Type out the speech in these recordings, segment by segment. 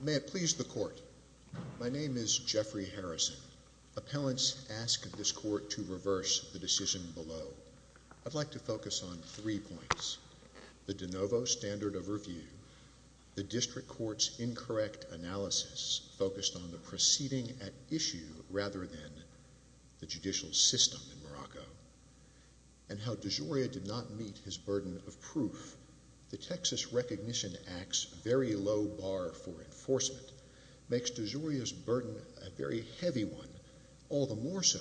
May it please the Court. My name is Jeffrey Harrison. Appellants ask this Court to reverse the decision below. I'd like to focus on three points. The de novo standard of review, the District Court's incorrect analysis focused on the proceeding at issue rather than the judicial system in Morocco, and how DeJoria did not meet his burden of proof. The Texas Recognition Act's very low bar for enforcement makes DeJoria's burden a very heavy one, all the more so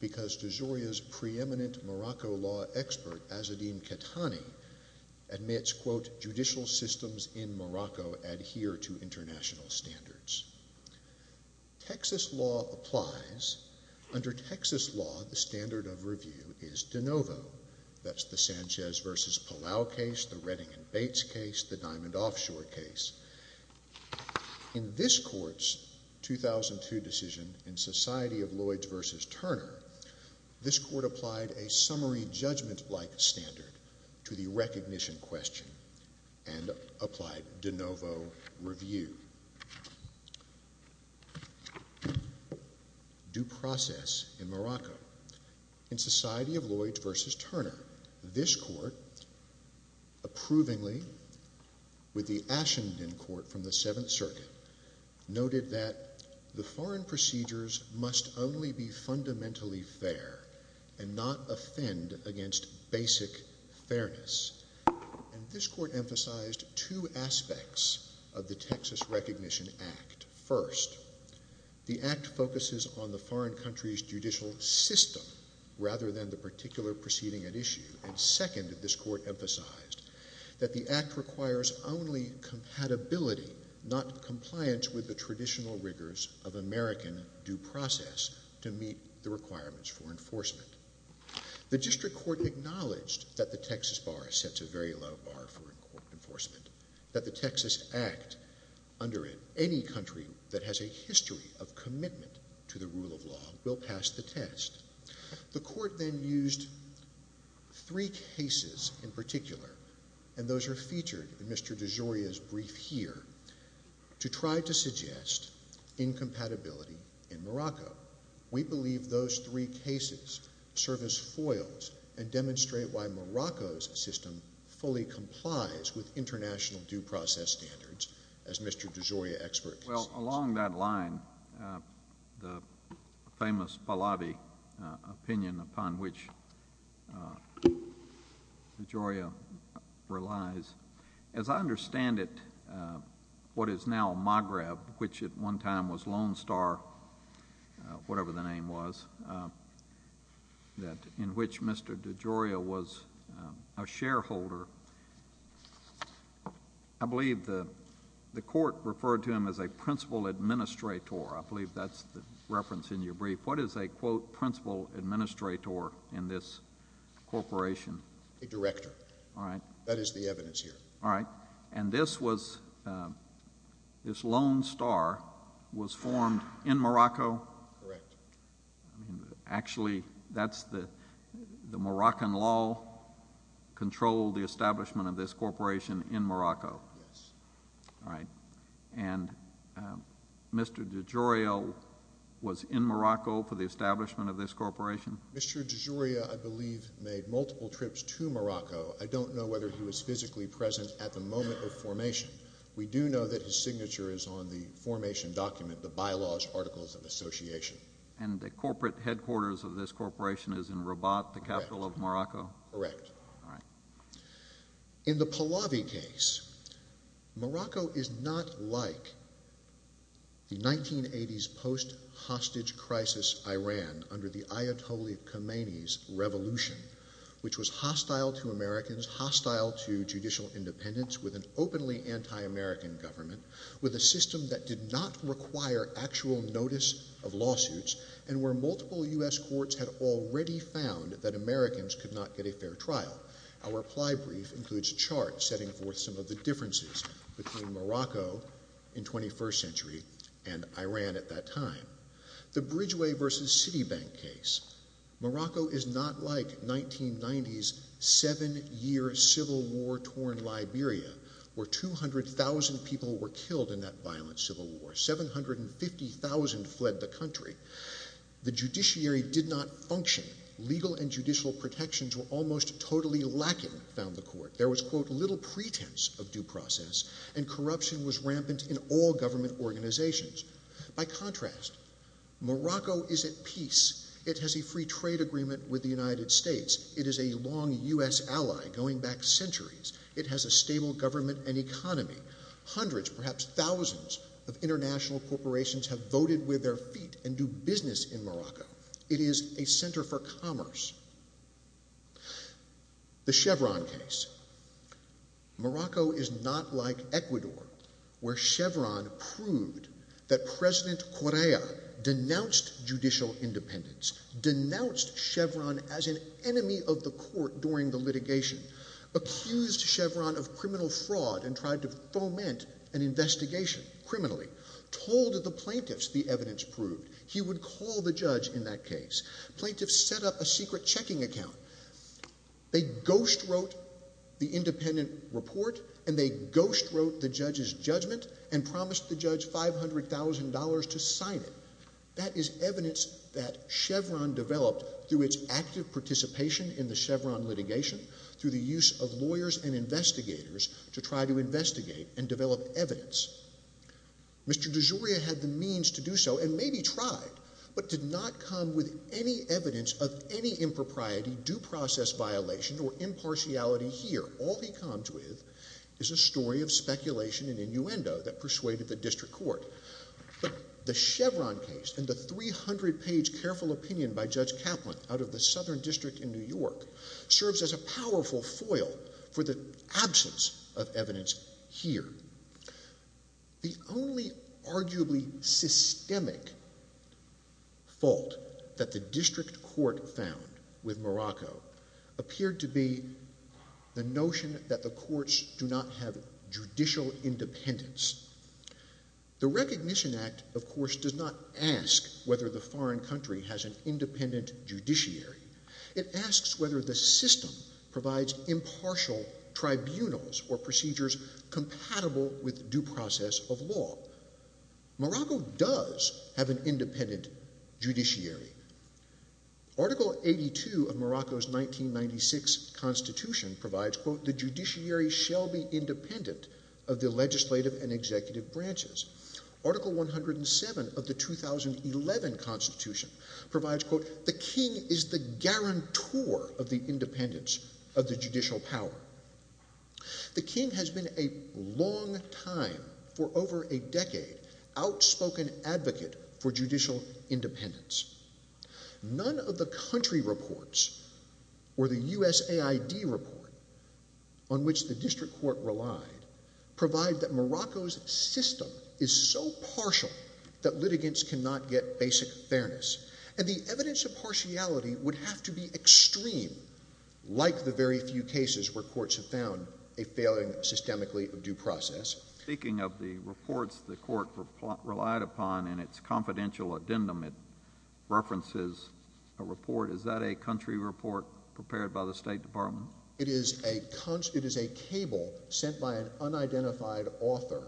because DeJoria's preeminent Morocco law expert, Azzedine Ketani, admits, quote, judicial systems in Morocco adhere to international standards. Texas law applies. Under Texas law, the standard of review is de novo. That's the Sanchez v. Palau case, the Redding and Bates case, the Diamond Offshore case. In this Court's 2002 decision in Society of Lloyds v. Turner, this Court applied a summary judgment-like standard to the recognition question and applied de novo review. Due process in Morocco. In Society of Lloyds v. Turner, this Court, approvingly, with the Ashenden Court from the Seventh Circuit, noted that the foreign procedures must only be fundamentally fair and not offend against basic fairness. And this Court emphasized two aspects of the Texas Recognition Act. First, the Act focuses on the foreign country's judicial system rather than the particular proceeding at issue. Second, this Court emphasized that the Act requires only compatibility, not compliance with the traditional rigors of American due process to meet the requirements for enforcement. The District Court acknowledged that the Texas bar sets a very low bar for enforcement, that the Texas Act, under any country that has a history of commitment to the rule of law, will pass the test. The Court then used three cases in particular, and those are featured in Mr. DeGioia's brief here, to try to suggest incompatibility in Morocco. We believe those three cases serve as foils and demonstrate why Morocco's system fully complies with international due process standards, as Mr. DeGioia experts. Well, along that line, the famous Pahlavi opinion upon which DeGioia relies, as I understand it, what is now Maghreb, which at one time was Lone Star, whatever the name was, in which Mr. DeGioia was a shareholder, I believe the Court referred to him as a principal administrator. I believe that's the reference in your brief. What is a, quote, principal administrator in this corporation? A director. All right. That is the evidence here. All right. And this Lone Star was formed in Morocco? Correct. Actually, the Moroccan law controlled the establishment of this corporation in Morocco. Yes. All right. And Mr. DeGioia was in Morocco for the establishment of this corporation? Mr. DeGioia, I believe, made multiple trips to Morocco. I don't know whether he was physically present at the moment of formation. We do know that his signature is on the formation document, the bylaws articles of association. And the corporate headquarters of this corporation is in Rabat, the capital of Morocco? Correct. All right. In the Pahlavi case, Morocco is not like the 1980s post-hostage crisis Iran under the Ayatollah Khomeini's revolution, which was hostile to Americans, hostile to judicial independence, with an openly anti-American government, with a system that did not require actual notice of lawsuits, and where multiple U.S. courts had already found that Americans could not get a fair trial. Our reply brief includes a chart setting forth some of the differences between Morocco in the 21st century and Iran at that time. The Bridgeway v. Citibank case. Morocco is not like 1990s seven-year civil war-torn Liberia, where 200,000 people were killed in that violent civil war. 750,000 fled the country. The judiciary did not function. Legal and judicial protections were almost totally lacking, found the court. There was, quote, little pretense of due process, and corruption was rampant in all government organizations. By contrast, Morocco is at peace. It has a free trade agreement with the United States. It is a long U.S. ally, going back centuries. It has a stable government and economy. Hundreds, perhaps thousands, of international corporations have voted with their feet and do business in Morocco. It is a center for commerce. The Chevron case. Morocco is not like Ecuador, where Chevron proved that President Correa denounced judicial independence, denounced Chevron as an enemy of the court during the litigation, accused Chevron of criminal fraud and tried to foment an investigation, criminally, told the plaintiffs the evidence proved. He would call the judge in that case. Plaintiffs set up a secret checking account. They ghostwrote the independent report, and they ghostwrote the judge's judgment and promised the judge $500,000 to sign it. That is evidence that Chevron developed through its active participation in the Chevron litigation, through the use of lawyers and investigators to try to investigate and develop evidence. Mr. DeGioia had the means to do so and maybe tried, but did not come with any evidence of any impropriety, due process violation, or impartiality here. All he comes with is a story of speculation and innuendo that persuaded the district court. The Chevron case and the 300-page careful opinion by Judge Kaplan out of the Southern District in New York serves as a powerful foil for the absence of evidence here. The only arguably systemic fault that the district court found with Morocco appeared to be the notion that the courts do not have judicial independence. The Recognition Act, of course, does not ask whether the foreign country has an independent judiciary. It asks whether the system provides impartial tribunals or procedures compatible with due process of law. Morocco does have an independent judiciary. Article 82 of Morocco's 1996 Constitution provides, quote, the judiciary shall be independent of the legislative and executive branches. Article 107 of the 2011 Constitution provides, quote, the king is the guarantor of the independence of the judicial power. The king has been a long time, for over a decade, outspoken advocate for judicial independence. None of the country reports or the USAID report on which the district court relied provide that Morocco's system is so partial that litigants cannot get basic fairness. And the evidence of partiality would have to be extreme, like the very few cases where courts have found a failing systemically of due process. Speaking of the reports the court relied upon in its confidential addendum, it references a report. Is that a country report prepared by the State Department? It is a cable sent by an unidentified author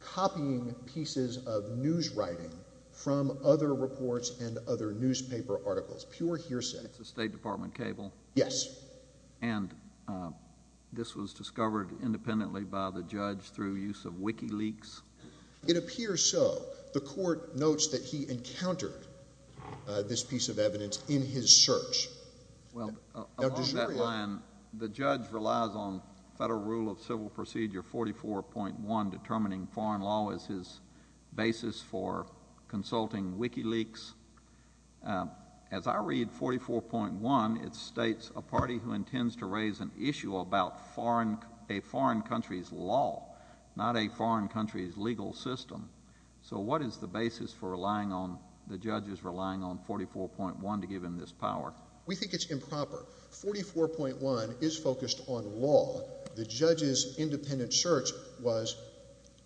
copying pieces of news writing from other reports and other newspaper articles. Pure hearsay. It's a State Department cable? Yes. And this was discovered independently by the judge through use of WikiLeaks? It appears so. The court notes that he encountered this piece of evidence in his search. Well, along that line, the judge relies on Federal Rule of Civil Procedure 44.1 determining foreign law as his basis for consulting WikiLeaks. As I read 44.1, it states, a party who intends to raise an issue about a foreign country's law, not a foreign country's legal system. So what is the basis for relying on, 44.1 to give him this power? We think it's improper. 44.1 is focused on law. The judge's independent search was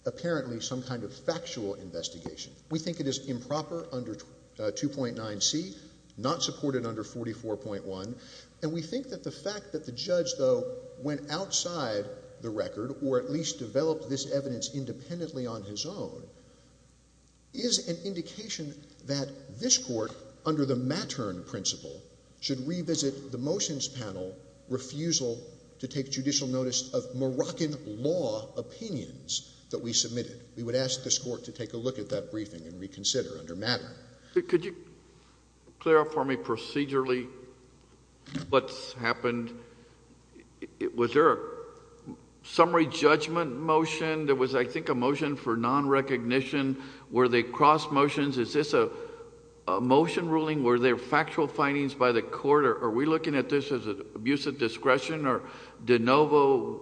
apparently some kind of factual investigation. We think it is improper under 2.9c, not supported under 44.1. And we think that the fact that the judge, though, went outside the record, or at least developed this evidence independently on his own, is an indication that this Court, under the Mattern principle, should revisit the motions panel refusal to take judicial notice of Moroccan law opinions that we submitted. We would ask this Court to take a look at that briefing and reconsider under Mattern. Could you clarify for me procedurally what's happened? Was there a summary judgment motion? There was, I think, a motion for non-recognition. Were they cross motions? Is this a motion ruling? Were there factual findings by the Court? Are we looking at this as an abuse of discretion or de novo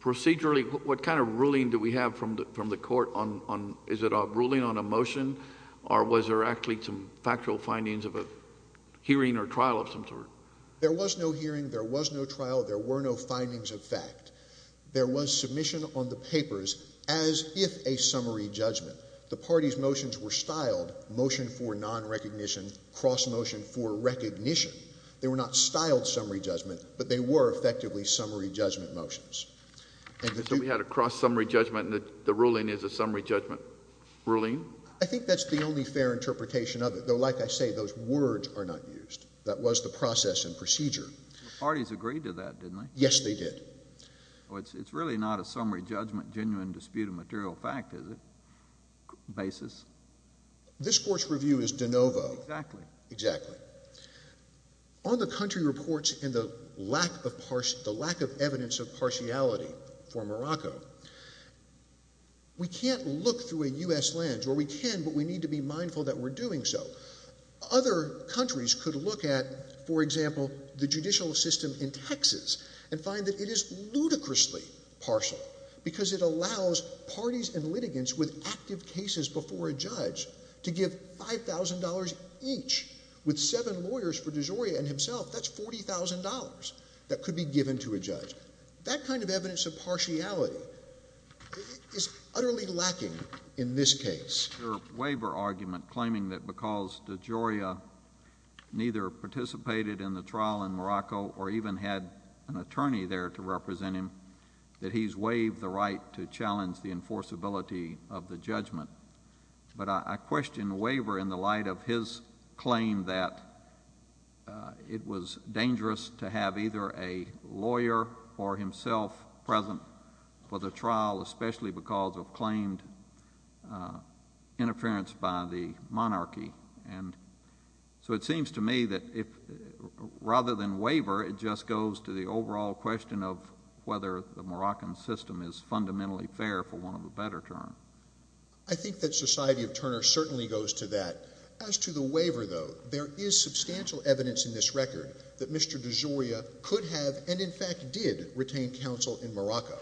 procedurally? What kind of ruling do we have from the Court? Is it a ruling on a motion, or was there actually some factual findings of a hearing or trial of some sort? There was no hearing. There was no trial. There were no findings of fact. There was submission on the papers as if a summary judgment. The party's motions were styled motion for non-recognition, cross motion for recognition. They were not styled summary judgment, but they were effectively summary judgment motions. So we had a cross summary judgment, and the ruling is a summary judgment ruling? I think that's the only fair interpretation of it, though, like I say, those words are not used. That was the process and procedure. The parties agreed to that, didn't they? Yes, they did. It's really not a summary judgment, genuine dispute of material fact, is it, basis? This Court's review is de novo. Exactly. Exactly. On the country reports and the lack of evidence of partiality for Morocco, we can't look through a U.S. lens, or we can, but we need to be mindful that we're doing so. Other countries could look at, for example, the judicial system in Texas and find that it is ludicrously partial because it allows parties and litigants with active cases before a judge to give $5,000 each with seven lawyers for DeGioia and himself, that's $40,000 that could be given to a judge. That kind of evidence of partiality is utterly lacking in this case. neither participated in the trial in Morocco or even had an attorney there to represent him, that he's waived the right to challenge the enforceability of the judgment. But I question the waiver in the light of his claim that it was dangerous to have either a lawyer or himself present for the trial, especially because of claimed interference by the monarchy. So it seems to me that rather than waiver, it just goes to the overall question of whether the Moroccan system is fundamentally fair for want of a better term. I think that Society of Turner certainly goes to that. As to the waiver, though, there is substantial evidence in this record that Mr. DeGioia could have, and in fact did, retain counsel in Morocco,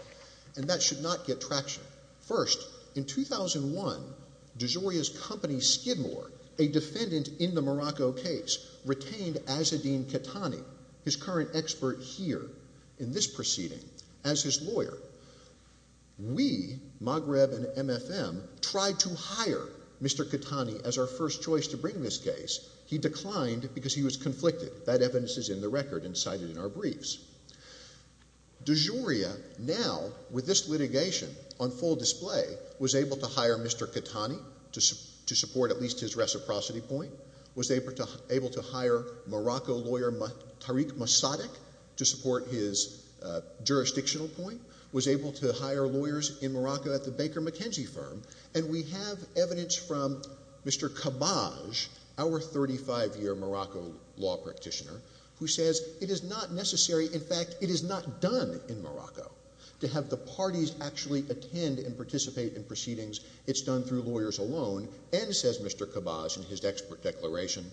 and that should not get traction. First, in 2001, DeGioia's company, Skidmore, a defendant in the Morocco case, retained Azzedine Catani, his current expert here in this proceeding, as his lawyer. We, Maghreb and MFM, tried to hire Mr. Catani as our first choice to bring this case. He declined because he was conflicted. That evidence is in the record and cited in our briefs. DeGioia now, with this litigation on full display, was able to hire Mr. Catani to support at least his reciprocity point, was able to hire Morocco lawyer Tariq Mossadegh to support his jurisdictional point, was able to hire lawyers in Morocco at the Baker McKenzie firm, and we have evidence from Mr. Cabbage, our 35-year Morocco law practitioner, who says it is not necessary, in fact, it is not done in Morocco to have the parties actually attend and participate in proceedings. It's done through lawyers alone, and, says Mr. Cabbage in his expert declaration,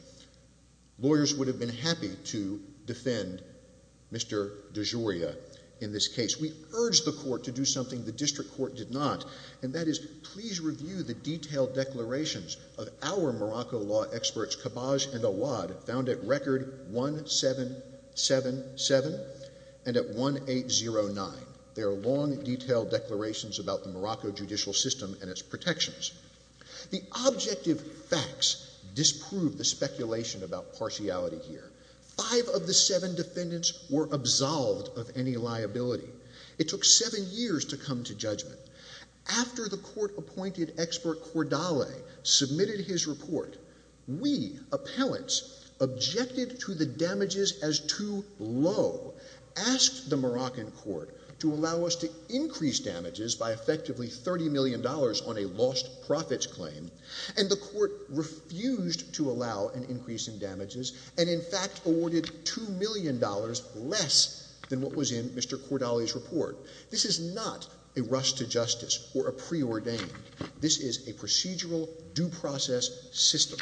lawyers would have been happy to defend Mr. DeGioia in this case. We urged the court to do something the district court did not, and that is please review the detailed declarations of our Morocco law experts, Cabbage and Awad, found at record 1777 and at 1809. There are long, detailed declarations about the Morocco judicial system and its protections. The objective facts disprove the speculation about partiality here. Five of the seven defendants were absolved of any liability. It took seven years to come to judgment. After the court appointed expert Cordale submitted his report, we, appellants, objected to the damages as too low, asked the Moroccan court to allow us to increase damages by effectively $30 million on a lost profits claim, and the court refused to allow an increase in damages and, in fact, awarded $2 million less than what was in Mr. Cordale's report. This is not a rush to justice or a preordain. This is a procedural due process system.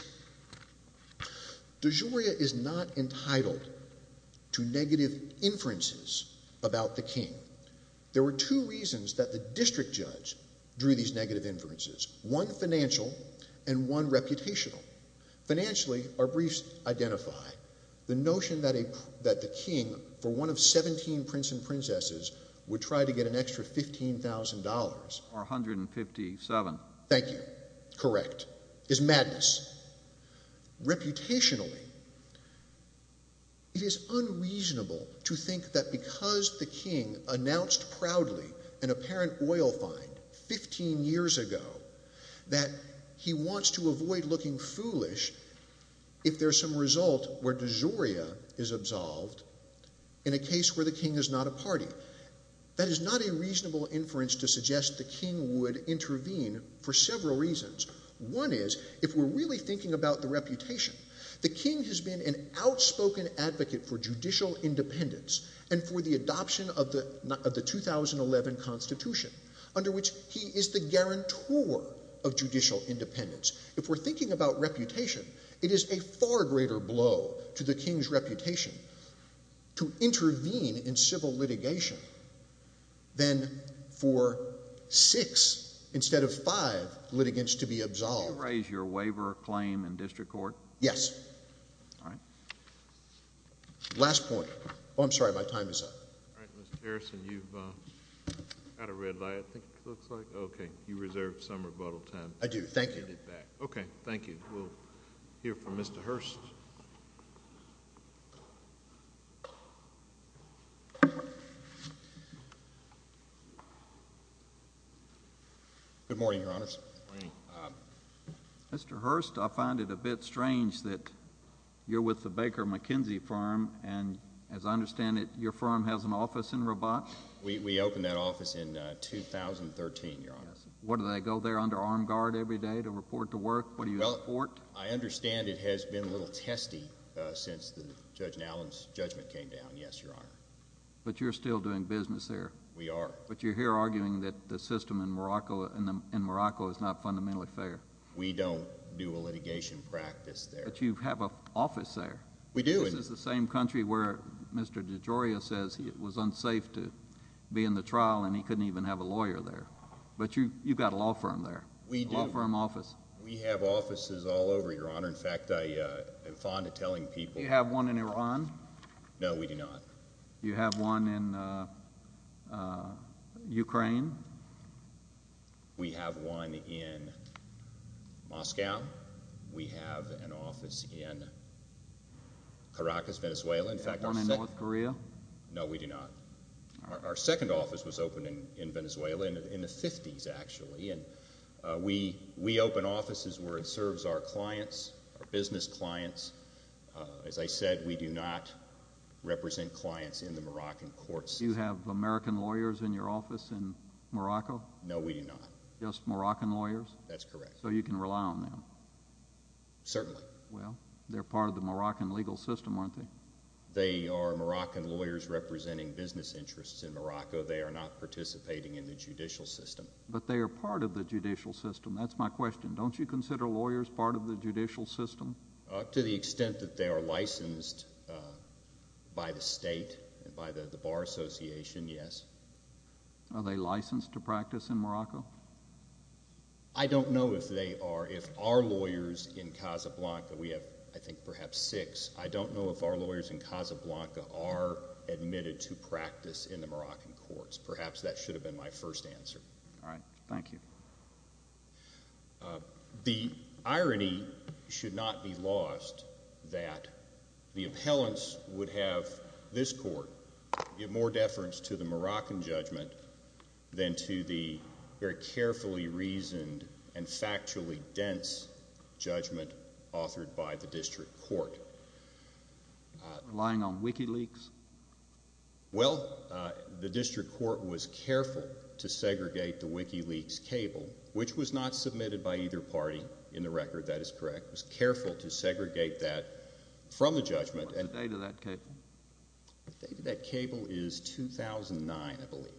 DeGioia is not entitled to negative inferences about the king. There were two reasons that the district judge drew these negative inferences, one financial and one reputational. Financially, our briefs identify the notion that the king, for one of 17 prince and princesses, would try to get an extra $15,000... Or $157,000. Thank you. Correct. ...is madness. Reputationally, it is unreasonable to think that because the king announced proudly an apparent oil find 15 years ago that he wants to avoid looking foolish if there's some result where DeGioia is absolved in a case where the king is not a party. That is not a reasonable inference to suggest the king would intervene for several reasons. One is, if we're really thinking about the reputation, the king has been an outspoken advocate for judicial independence and for the adoption of the 2011 Constitution, under which he is the guarantor of judicial independence. If we're thinking about reputation, it is a far greater blow to the king's reputation to intervene in civil litigation than for six instead of five litigants to be absolved. Do you raise your waiver claim in district court? Yes. All right. Last point. Oh, I'm sorry, my time is up. All right, Mr. Harrison, you've got a red light, I think it looks like. Okay. You reserve some rebuttal time. I do. Thank you. Okay. Thank you. We'll hear from Mr. Hurst. Good morning, Your Honors. Mr. Hurst, I find it a bit strange that you're with the Baker McKenzie firm and, as I understand it, your firm has an office in Rabat? We opened that office in 2013, Your Honor. What, do they go there under armed guard every day to report to work? What do you report? Well, I understand it has been a little testy since Judge Allen's judgment came down, yes, Your Honor. But you're still doing business there? We are. But you're here arguing that the system in Morocco is not fundamentally fair. We don't do a litigation practice there. But you have an office there. We do. This is the same country where Mr. DeGioia says it was unsafe to be in the trial and he couldn't even have a lawyer there. But you've got a law firm there, a law firm office. We do. We have offices all over, Your Honor. In fact, I am fond of telling people... Do you have one in Iran? No, we do not. Do you have one in Ukraine? We have one in Moscow. We have an office in Caracas, Venezuela. Do you have one in North Korea? No, we do not. Our second office was opened in Venezuela in the 50s, actually. We open offices where it serves our clients, our business clients. As I said, we do not represent clients in the Moroccan courts. Do you have American lawyers in your office in Morocco? No, we do not. Just Moroccan lawyers? That's correct. So you can rely on them? Certainly. Well, they're part of the Moroccan legal system, aren't they? They are Moroccan lawyers representing business interests in Morocco. They are not participating in the judicial system. But they are part of the judicial system. That's my question. Don't you consider lawyers part of the judicial system? To the extent that they are licensed by the state, by the Bar Association, yes. Are they licensed to practice in Morocco? I don't know if they are. If our lawyers in Casablanca, we have, I think, perhaps six. I don't know if our lawyers in Casablanca are admitted to practice in the Moroccan courts. Perhaps that should have been my first answer. All right. Thank you. The irony should not be lost that the appellants would have this court give more deference to the Moroccan judgment than to the very carefully reasoned and factually dense judgment authored by the district court. Relying on WikiLeaks? Well, the district court was careful to segregate the WikiLeaks cable, which was not submitted by either party in the record. That is correct. It was careful to segregate that from the judgment. What's the date of that cable? The date of that cable is 2009, I believe.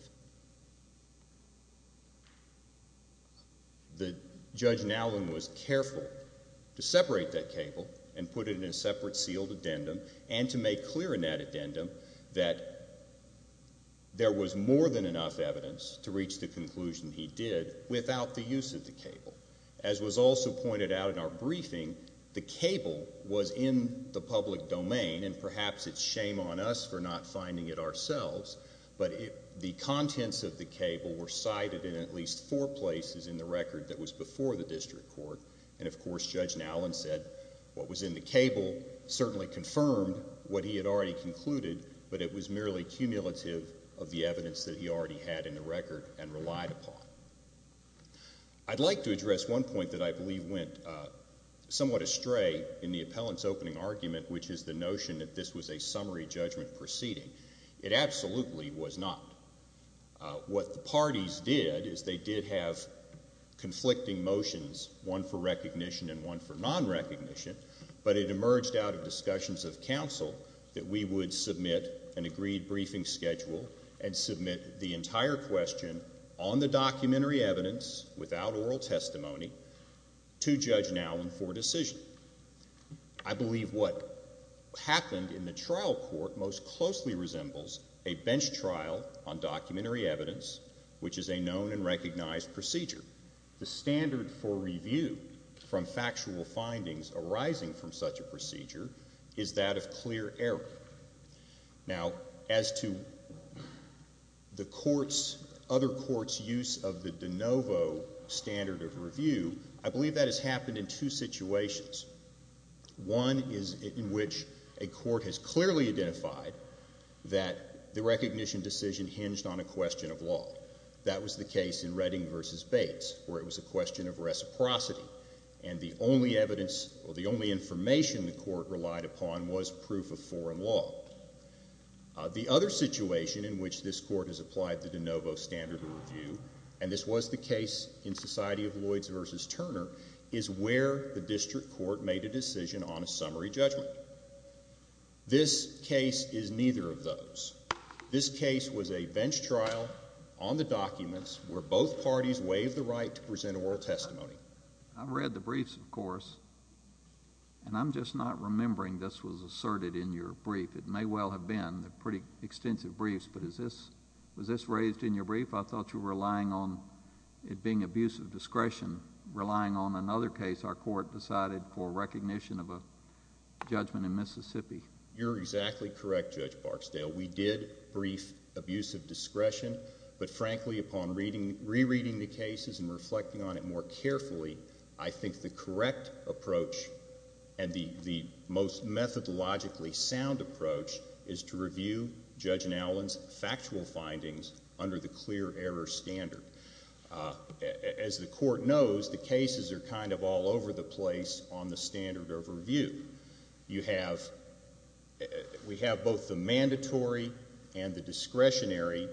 Judge Nowlin was careful to separate that cable and put it in a separate sealed addendum and to make clear in that addendum that there was more than enough evidence to reach the conclusion he did without the use of the cable. As was also pointed out in our briefing, the cable was in the public domain, and perhaps it's shame on us for not finding it ourselves, but the contents of the cable were cited in at least four places in the record that was before the district court. And, of course, Judge Nowlin said what was in the cable certainly confirmed what he had already concluded, but it was merely cumulative of the evidence that he already had in the record and relied upon. I'd like to address one point that I believe went somewhat astray in the appellant's opening argument, which is the notion that this was a summary judgment proceeding. It absolutely was not. What the parties did is they did have conflicting motions, one for recognition and one for nonrecognition, but it emerged out of discussions of counsel that we would submit an agreed briefing schedule and submit the entire question on the documentary evidence without oral testimony to Judge Nowlin for decision. I believe what happened in the trial court most closely resembles a bench trial on documentary evidence, which is a known and recognized procedure. The standard for review from factual findings arising from such a procedure is that of clear error. Now, as to the court's, other court's use of the de novo standard of review, I believe that has happened in two situations. One is in which a court has clearly identified that the recognition decision hinged on a question of law. That was the case in Redding v. Bates, where it was a question of reciprocity, and the only evidence or the only information the court relied upon was proof of foreign law. The other situation in which this court has applied the de novo standard of review, and this was the case in Society of Lloyds v. Turner, is where the district court made a decision on a summary judgment. This case is neither of those. This case was a bench trial on the documents where both parties waived the right to present oral testimony. I've read the briefs, of course, and I'm just not remembering this was asserted in your brief. It may well have been. They're pretty extensive briefs, but was this raised in your brief? I thought you were relying on it being abuse of discretion. Relying on another case, our court decided for recognition of a judgment in Mississippi. You're exactly correct, Judge Barksdale. We did brief abuse of discretion, but frankly, upon rereading the cases and reflecting on it more carefully, I think the correct approach and the most methodologically sound approach is to review Judge Nowlin's factual findings under the clear error standard. As the court knows, the cases are kind of all over the place on the standard of review. We have both the mandatory and the discretionary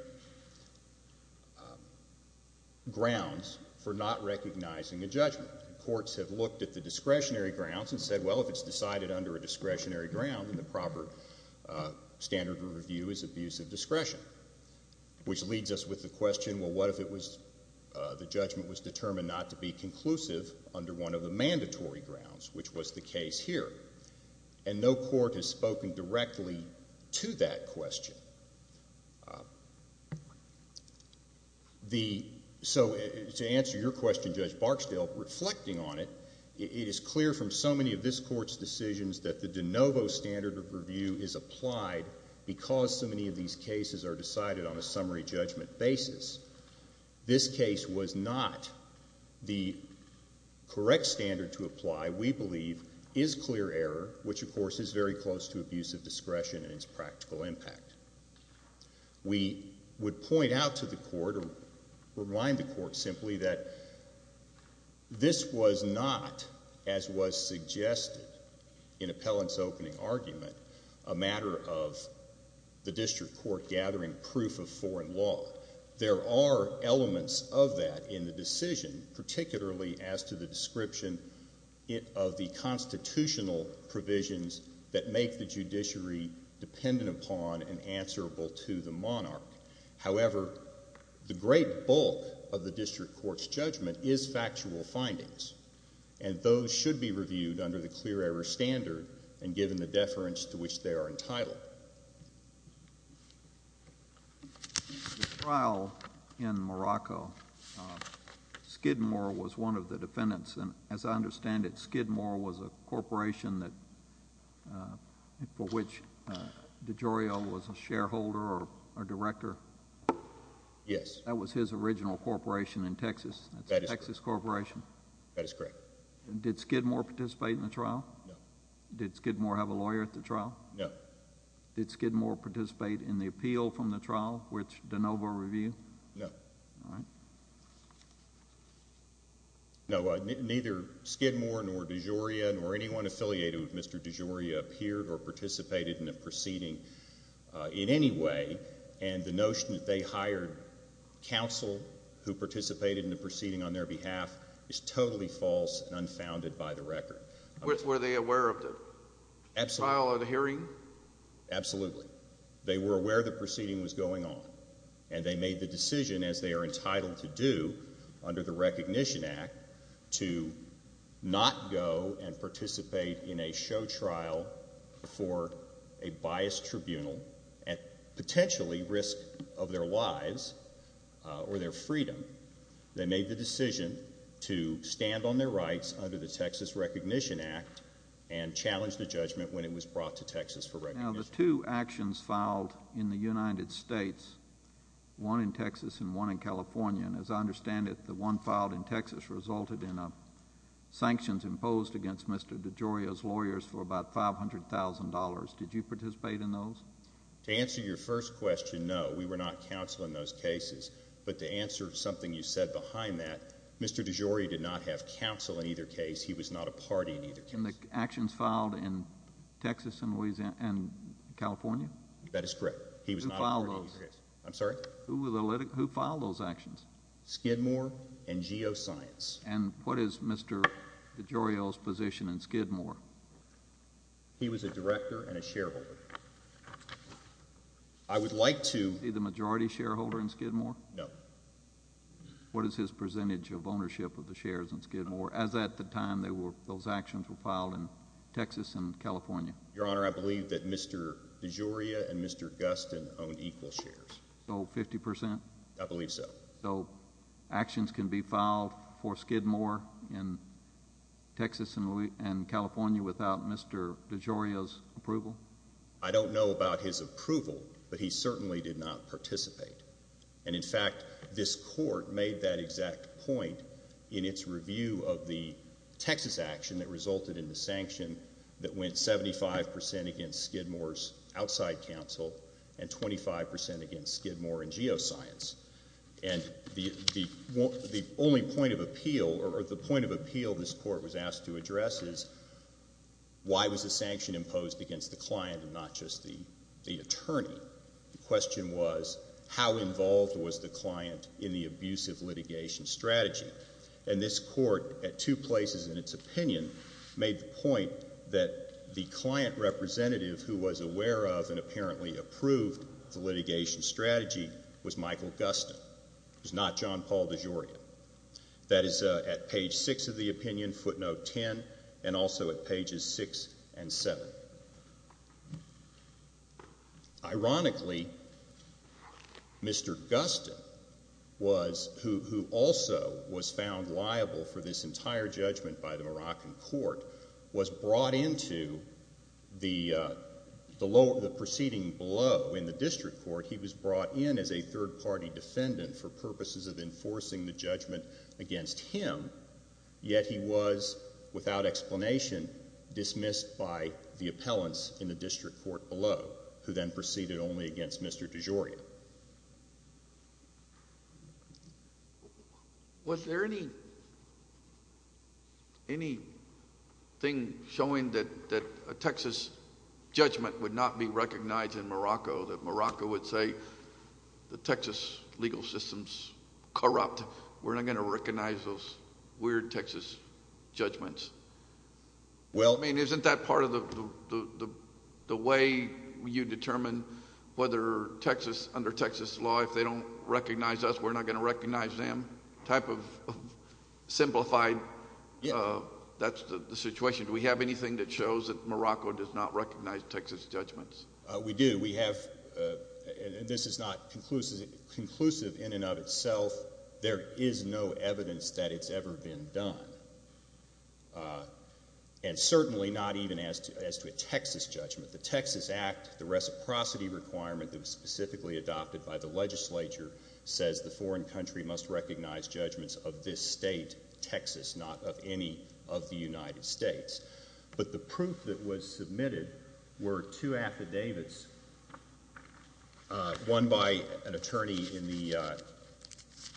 grounds for not recognizing a judgment. Courts have looked at the discretionary grounds and said, well, if it's decided under a discretionary ground, then the proper standard of review is abuse of discretion, which leads us with the question, well, what if the judgment was determined not to be conclusive under one of the mandatory grounds, which was the case here? And no court has spoken directly to that question. So to answer your question, Judge Barksdale, reflecting on it, it is clear from so many of this Court's decisions that the de novo standard of review is applied because so many of these cases are decided on a summary judgment basis. This case was not the correct standard to apply, we believe, is clear error, which, of course, is very close to abuse of discretion and its practical impact. We would point out to the court or remind the court simply that this was not, as was suggested in Appellant's opening argument, a matter of the district court gathering proof of foreign law. There are elements of that in the decision, particularly as to the description of the constitutional provisions that make the judiciary dependent upon and answerable to the monarch. However, the great bulk of the district court's judgment is factual findings, and those should be reviewed under the clear error standard and given the deference to which they are entitled. The trial in Morocco, Skidmore was one of the defendants. As I understand it, Skidmore was a corporation for which DiGiorio was a shareholder or director. Yes. That was his original corporation in Texas. That is correct. It's a Texas corporation. That is correct. Did Skidmore participate in the trial? No. Did Skidmore have a lawyer at the trial? No. Did Skidmore participate in the appeal from the trial, which de novo review? No. All right. No, neither Skidmore nor DiGiorio nor anyone affiliated with Mr. DiGiorio appeared or participated in the proceeding in any way, and the notion that they hired counsel who participated in the proceeding on their behalf is totally false and unfounded by the record. Were they aware of the trial or the hearing? Absolutely. They were aware the proceeding was going on, and they made the decision, as they are entitled to do under the Recognition Act, to not go and participate in a show trial for a biased tribunal at potentially risk of their lives or their freedom. They made the decision to stand on their rights under the Texas Recognition Act and challenge the judgment when it was brought to Texas for recognition. Now, the two actions filed in the United States, one in Texas and one in California, and as I understand it, the one filed in Texas resulted in sanctions imposed against Mr. DiGiorio's lawyers for about $500,000. Did you participate in those? To answer your first question, no. We were not counsel in those cases. But to answer something you said behind that, Mr. DiGiorio did not have counsel in either case. He was not a party in either case. And the actions filed in Texas and California? That is correct. Who filed those? I'm sorry? Who filed those actions? Skidmore and Geoscience. And what is Mr. DiGiorio's position in Skidmore? He was a director and a shareholder. I would like to— Is he the majority shareholder in Skidmore? No. What is his percentage of ownership of the shares in Skidmore, as at the time those actions were filed in Texas and California? Your Honor, I believe that Mr. DiGiorio and Mr. Gustin own equal shares. So 50%? I believe so. So actions can be filed for Skidmore in Texas and California without Mr. DiGiorio's approval? I don't know about his approval, but he certainly did not participate. And, in fact, this Court made that exact point in its review of the Texas action that resulted in the sanction that went 75% against Skidmore's outside counsel and 25% against Skidmore and Geoscience. And the only point of appeal, or the point of appeal this Court was asked to address, is why was the sanction imposed against the client and not just the attorney? The question was how involved was the client in the abusive litigation strategy? And this Court, at two places in its opinion, made the point that the client representative who was aware of and apparently approved the litigation strategy was Michael Gustin. It was not John Paul DiGiorio. That is at page 6 of the opinion, footnote 10, and also at pages 6 and 7. Ironically, Mr. Gustin, who also was found liable for this entire judgment by the Moroccan Court, was brought into the proceeding below in the district court. He was brought in as a third-party defendant for purposes of enforcing the judgment against him, yet he was, without explanation, dismissed by the appellants in the district court below, who then proceeded only against Mr. DiGiorio. Was there anything showing that a Texas judgment would not be recognized in Morocco, that Morocco would say the Texas legal system is corrupt, we're not going to recognize those weird Texas judgments? I mean, isn't that part of the way you determine whether Texas, under Texas law, if they don't recognize us, we're not going to recognize them type of simplified situation? Do we have anything that shows that Morocco does not recognize Texas judgments? We do. This is not conclusive in and of itself. There is no evidence that it's ever been done, and certainly not even as to a Texas judgment. The Texas Act, the reciprocity requirement that was specifically adopted by the legislature, says the foreign country must recognize judgments of this state, Texas, not of any of the United States. But the proof that was submitted were two affidavits, one by an attorney in the,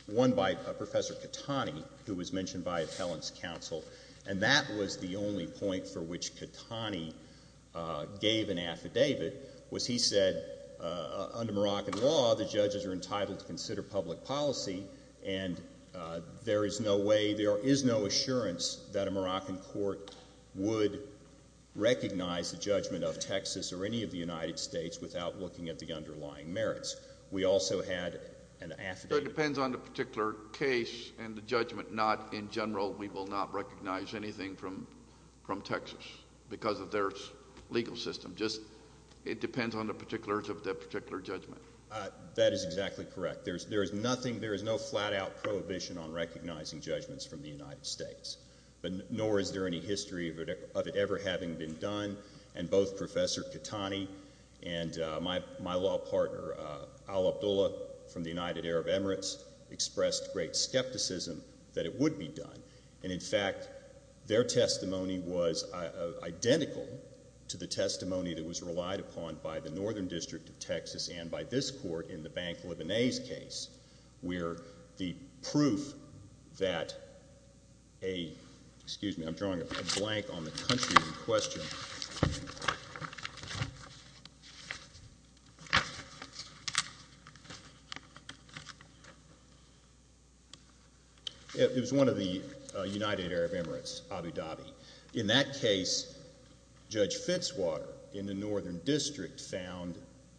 one by Professor Catani, who was mentioned by appellants' counsel, and that was the only point for which Catani gave an affidavit, was he said, under Moroccan law, the judges are entitled to consider public policy, and there is no way, there is no assurance that a Moroccan court would recognize the judgment of Texas or any of the United States without looking at the underlying merits. We also had an affidavit. So it depends on the particular case and the judgment, not in general, we will not recognize anything from Texas because of their legal system. Just it depends on the particulars of that particular judgment. That is exactly correct. There is nothing, there is no flat-out prohibition on recognizing judgments from the United States, nor is there any history of it ever having been done, and both Professor Catani and my law partner, Al Abdullah, from the United Arab Emirates, expressed great skepticism that it would be done. And, in fact, their testimony was identical to the testimony that was relied upon by the Northern District of Texas and by this court in the Bank Libanese case, where the proof that a, excuse me, I'm drawing a blank on the country in question. It was one of the United Arab Emirates, Abu Dhabi. In that case, Judge Fitzwater in the Northern District found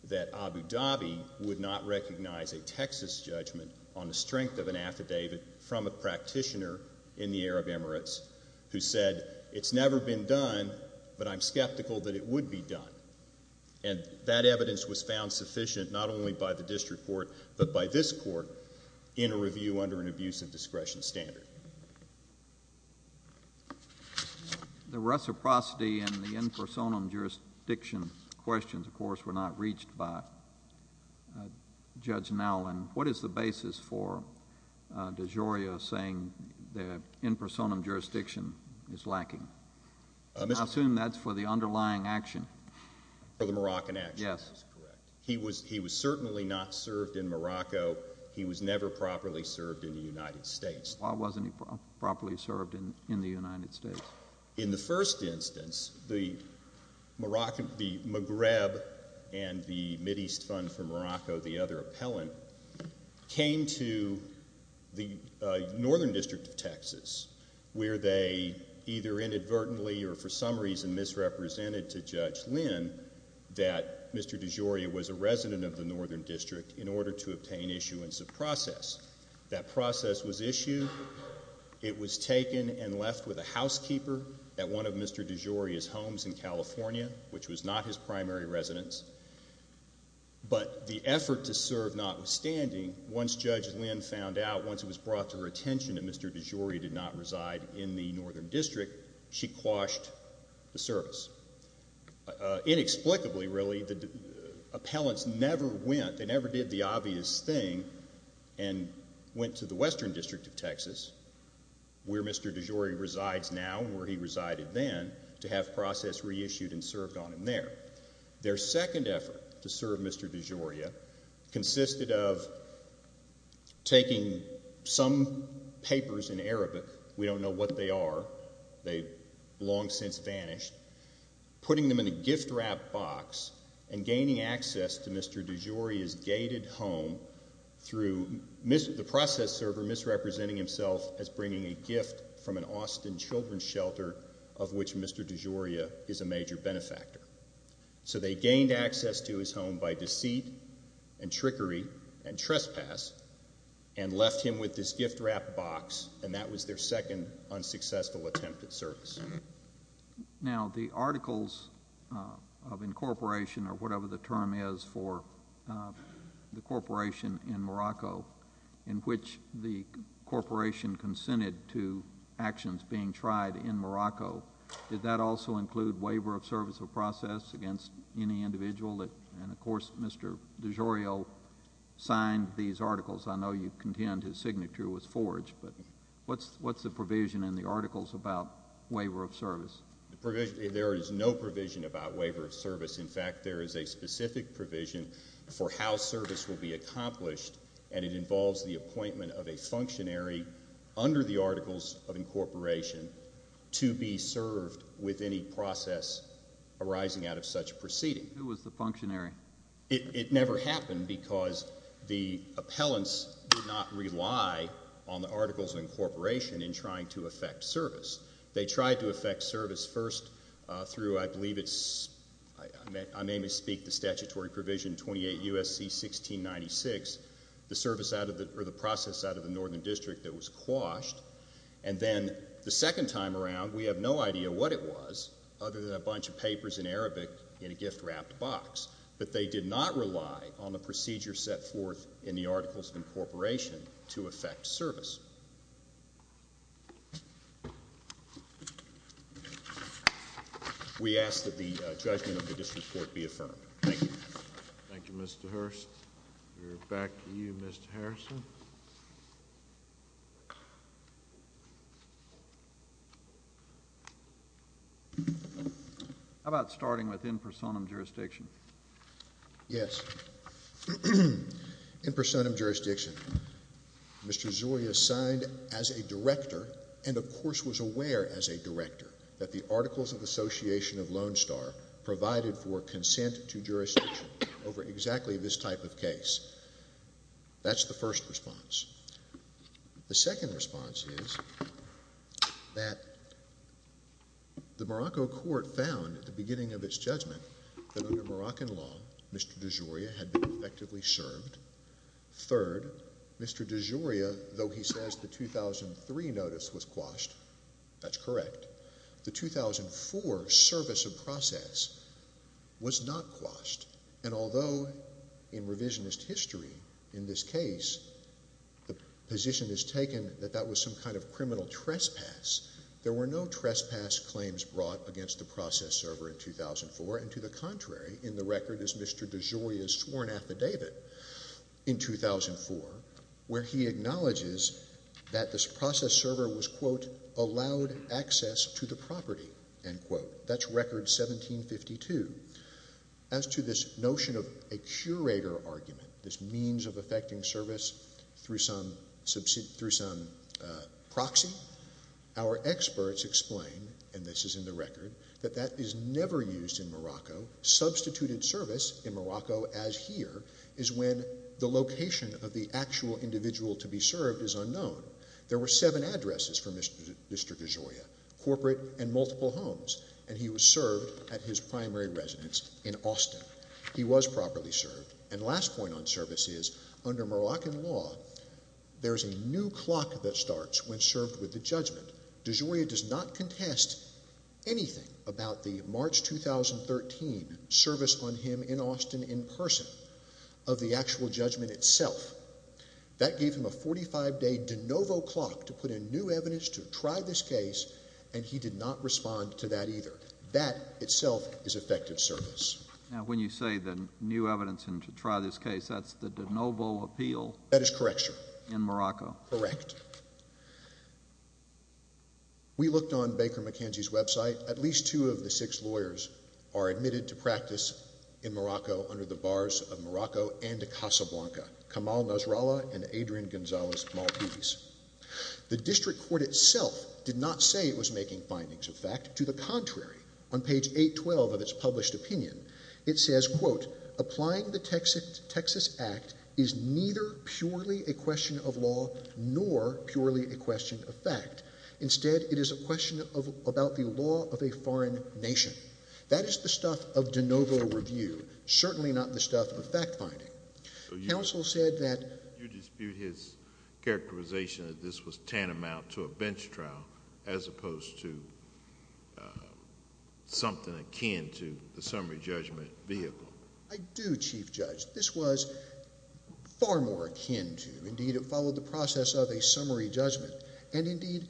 that Abu Dhabi would not recognize a Texas judgment on the strength of an affidavit from a practitioner in the Arab Emirates who said, it's never been done, but I'm skeptical that it would be done. And that evidence was found sufficient not only by the district court, but by this court in a review under an abuse of discretion standard. The reciprocity and the in personam jurisdiction questions, of course, were not reached by Judge Nowlin. What is the basis for DeGioia saying that in personam jurisdiction is lacking? I assume that's for the underlying action. For the Moroccan action. Yes. He was certainly not served in Morocco. He was never properly served in the United States. Why wasn't he properly served in the United States? In the first instance, the Maghreb and the Mideast Fund for Morocco, the other appellant, came to the Northern District of Texas where they either inadvertently or for some reason misrepresented to Judge Lynn that Mr. DeGioia was a resident of the Northern District in order to obtain issuance of process. That process was issued. It was taken and left with a housekeeper at one of Mr. DeGioia's homes in California, which was not his primary residence. But the effort to serve notwithstanding, once Judge Lynn found out, once it was brought to her attention that Mr. DeGioia did not reside in the Northern District, she quashed the service. Inexplicably, really, the appellants never went, they never did the obvious thing, and went to the Western District of Texas where Mr. DeGioia resides now and where he resided then to have process reissued and served on him there. Their second effort to serve Mr. DeGioia consisted of taking some papers in Arabic. We don't know what they are. They've long since vanished. Putting them in a gift-wrapped box and gaining access to Mr. DeGioia's gated home through the process server misrepresenting himself as bringing a gift from an Austin children's shelter of which Mr. DeGioia is a major benefactor. So they gained access to his home by deceit and trickery and trespass and left him with this gift-wrapped box, and that was their second unsuccessful attempt at service. Now, the articles of incorporation or whatever the term is for the corporation in Morocco in which the corporation consented to actions being tried in Morocco, did that also include waiver of service of process against any individual? And, of course, Mr. DeGioia signed these articles. I know you contend his signature was forged, but what's the provision in the articles about waiver of service? There is no provision about waiver of service. In fact, there is a specific provision for how service will be accomplished, and it involves the appointment of a functionary under the articles of incorporation to be served with any process arising out of such proceeding. Who was the functionary? It never happened because the appellants did not rely on the articles of incorporation in trying to effect service. They tried to effect service first through, I believe it's, I may misspeak, the statutory provision 28 U.S.C. 1696, the process out of the northern district that was quashed, and then the second time around we have no idea what it was other than a bunch of papers in Arabic in a gift-wrapped box, but they did not rely on the procedure set forth in the articles of incorporation to effect service. We ask that the judgment of the district court be affirmed. Thank you. Thank you, Mr. Hurst. We're back to you, Mr. Harrison. How about starting with in personam jurisdiction? Yes. In personam jurisdiction, Mr. Zoria signed as a director and of course was aware as a director that the articles of association of Lone Star provided for consent to jurisdiction over exactly this type of case. That's the first response. The second response is that the Morocco court found at the beginning of its judgment that under Moroccan law Mr. Zoria had been effectively served. Third, Mr. Zoria, though he says the 2003 notice was quashed, that's correct, the 2004 service of process was not quashed, and although in revisionist history in this case the position is taken that that was some kind of criminal trespass, there were no trespass claims brought against the process server in 2004, and to the contrary in the record is Mr. Zoria's sworn affidavit in 2004 where he acknowledges that this process server was, quote, allowed access to the property, end quote. That's record 1752. As to this notion of a curator argument, this means of effecting service through some proxy, our experts explain, and this is in the record, that that is never used in Morocco. Substituted service in Morocco as here is when the location of the actual individual to be served is unknown. There were seven addresses for Mr. Zoria, corporate and multiple homes, and he was served at his primary residence in Austin. He was properly served, and the last point on service is under Moroccan law there is a new clock that starts when served with the judgment. De Zoria does not contest anything about the March 2013 service on him in Austin in person of the actual judgment itself. That gave him a 45-day de novo clock to put in new evidence to try this case, and he did not respond to that either. That itself is effective service. Now, when you say the new evidence and to try this case, that's the de novo appeal. That is correct, sir. In Morocco. Correct. We looked on Baker McKenzie's website. At least two of the six lawyers are admitted to practice in Morocco under the bars of Morocco and Casablanca, Kamal Nasrallah and Adrian Gonzalez Maltese. The district court itself did not say it was making findings of fact. To the contrary, on page 812 of its published opinion, it says, quote, It is neither purely a question of law nor purely a question of fact. Instead, it is a question about the law of a foreign nation. That is the stuff of de novo review, certainly not the stuff of fact finding. Counsel said that you dispute his characterization that this was tantamount to a bench trial as opposed to something akin to the summary judgment vehicle. I do, Chief Judge. This was far more akin to. Indeed, it followed the process of a summary judgment. Indeed,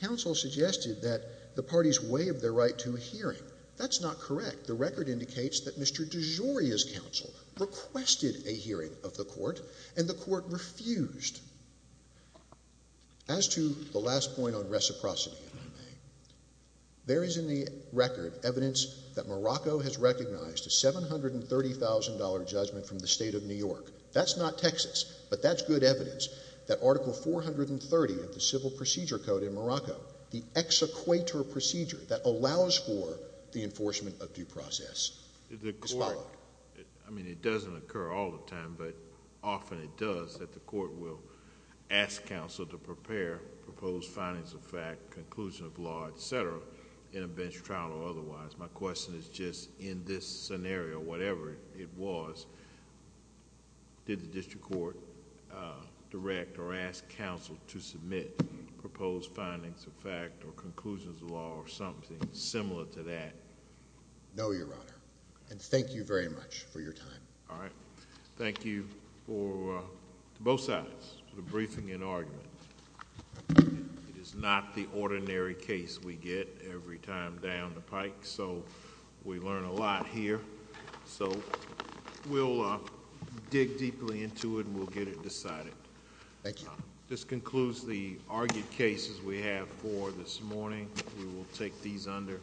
counsel suggested that the parties waive their right to a hearing. That's not correct. The record indicates that Mr. DeGioia's counsel requested a hearing of the court, and the court refused. As to the last point on reciprocity, if I may, there is in the record evidence that Morocco has recognized a $730,000 judgment from the state of New York. That's not Texas, but that's good evidence that Article 430 of the Civil Procedure Code in Morocco, the exequator procedure that allows for the enforcement of due process, is valid. I mean, it doesn't occur all the time, but often it does that the court will ask counsel to prepare proposed findings of fact, conclusion of law, et cetera, in a bench trial or otherwise. My question is just in this scenario, whatever it was, did the district court direct or ask counsel to submit proposed findings of fact or conclusions of law or something similar to that? No, Your Honor, and thank you very much for your time. All right. Thank you to both sides for the briefing and argument. We learn a lot here, so we'll dig deeply into it and we'll get it decided. This concludes the argued cases we have for this morning. We will take these under.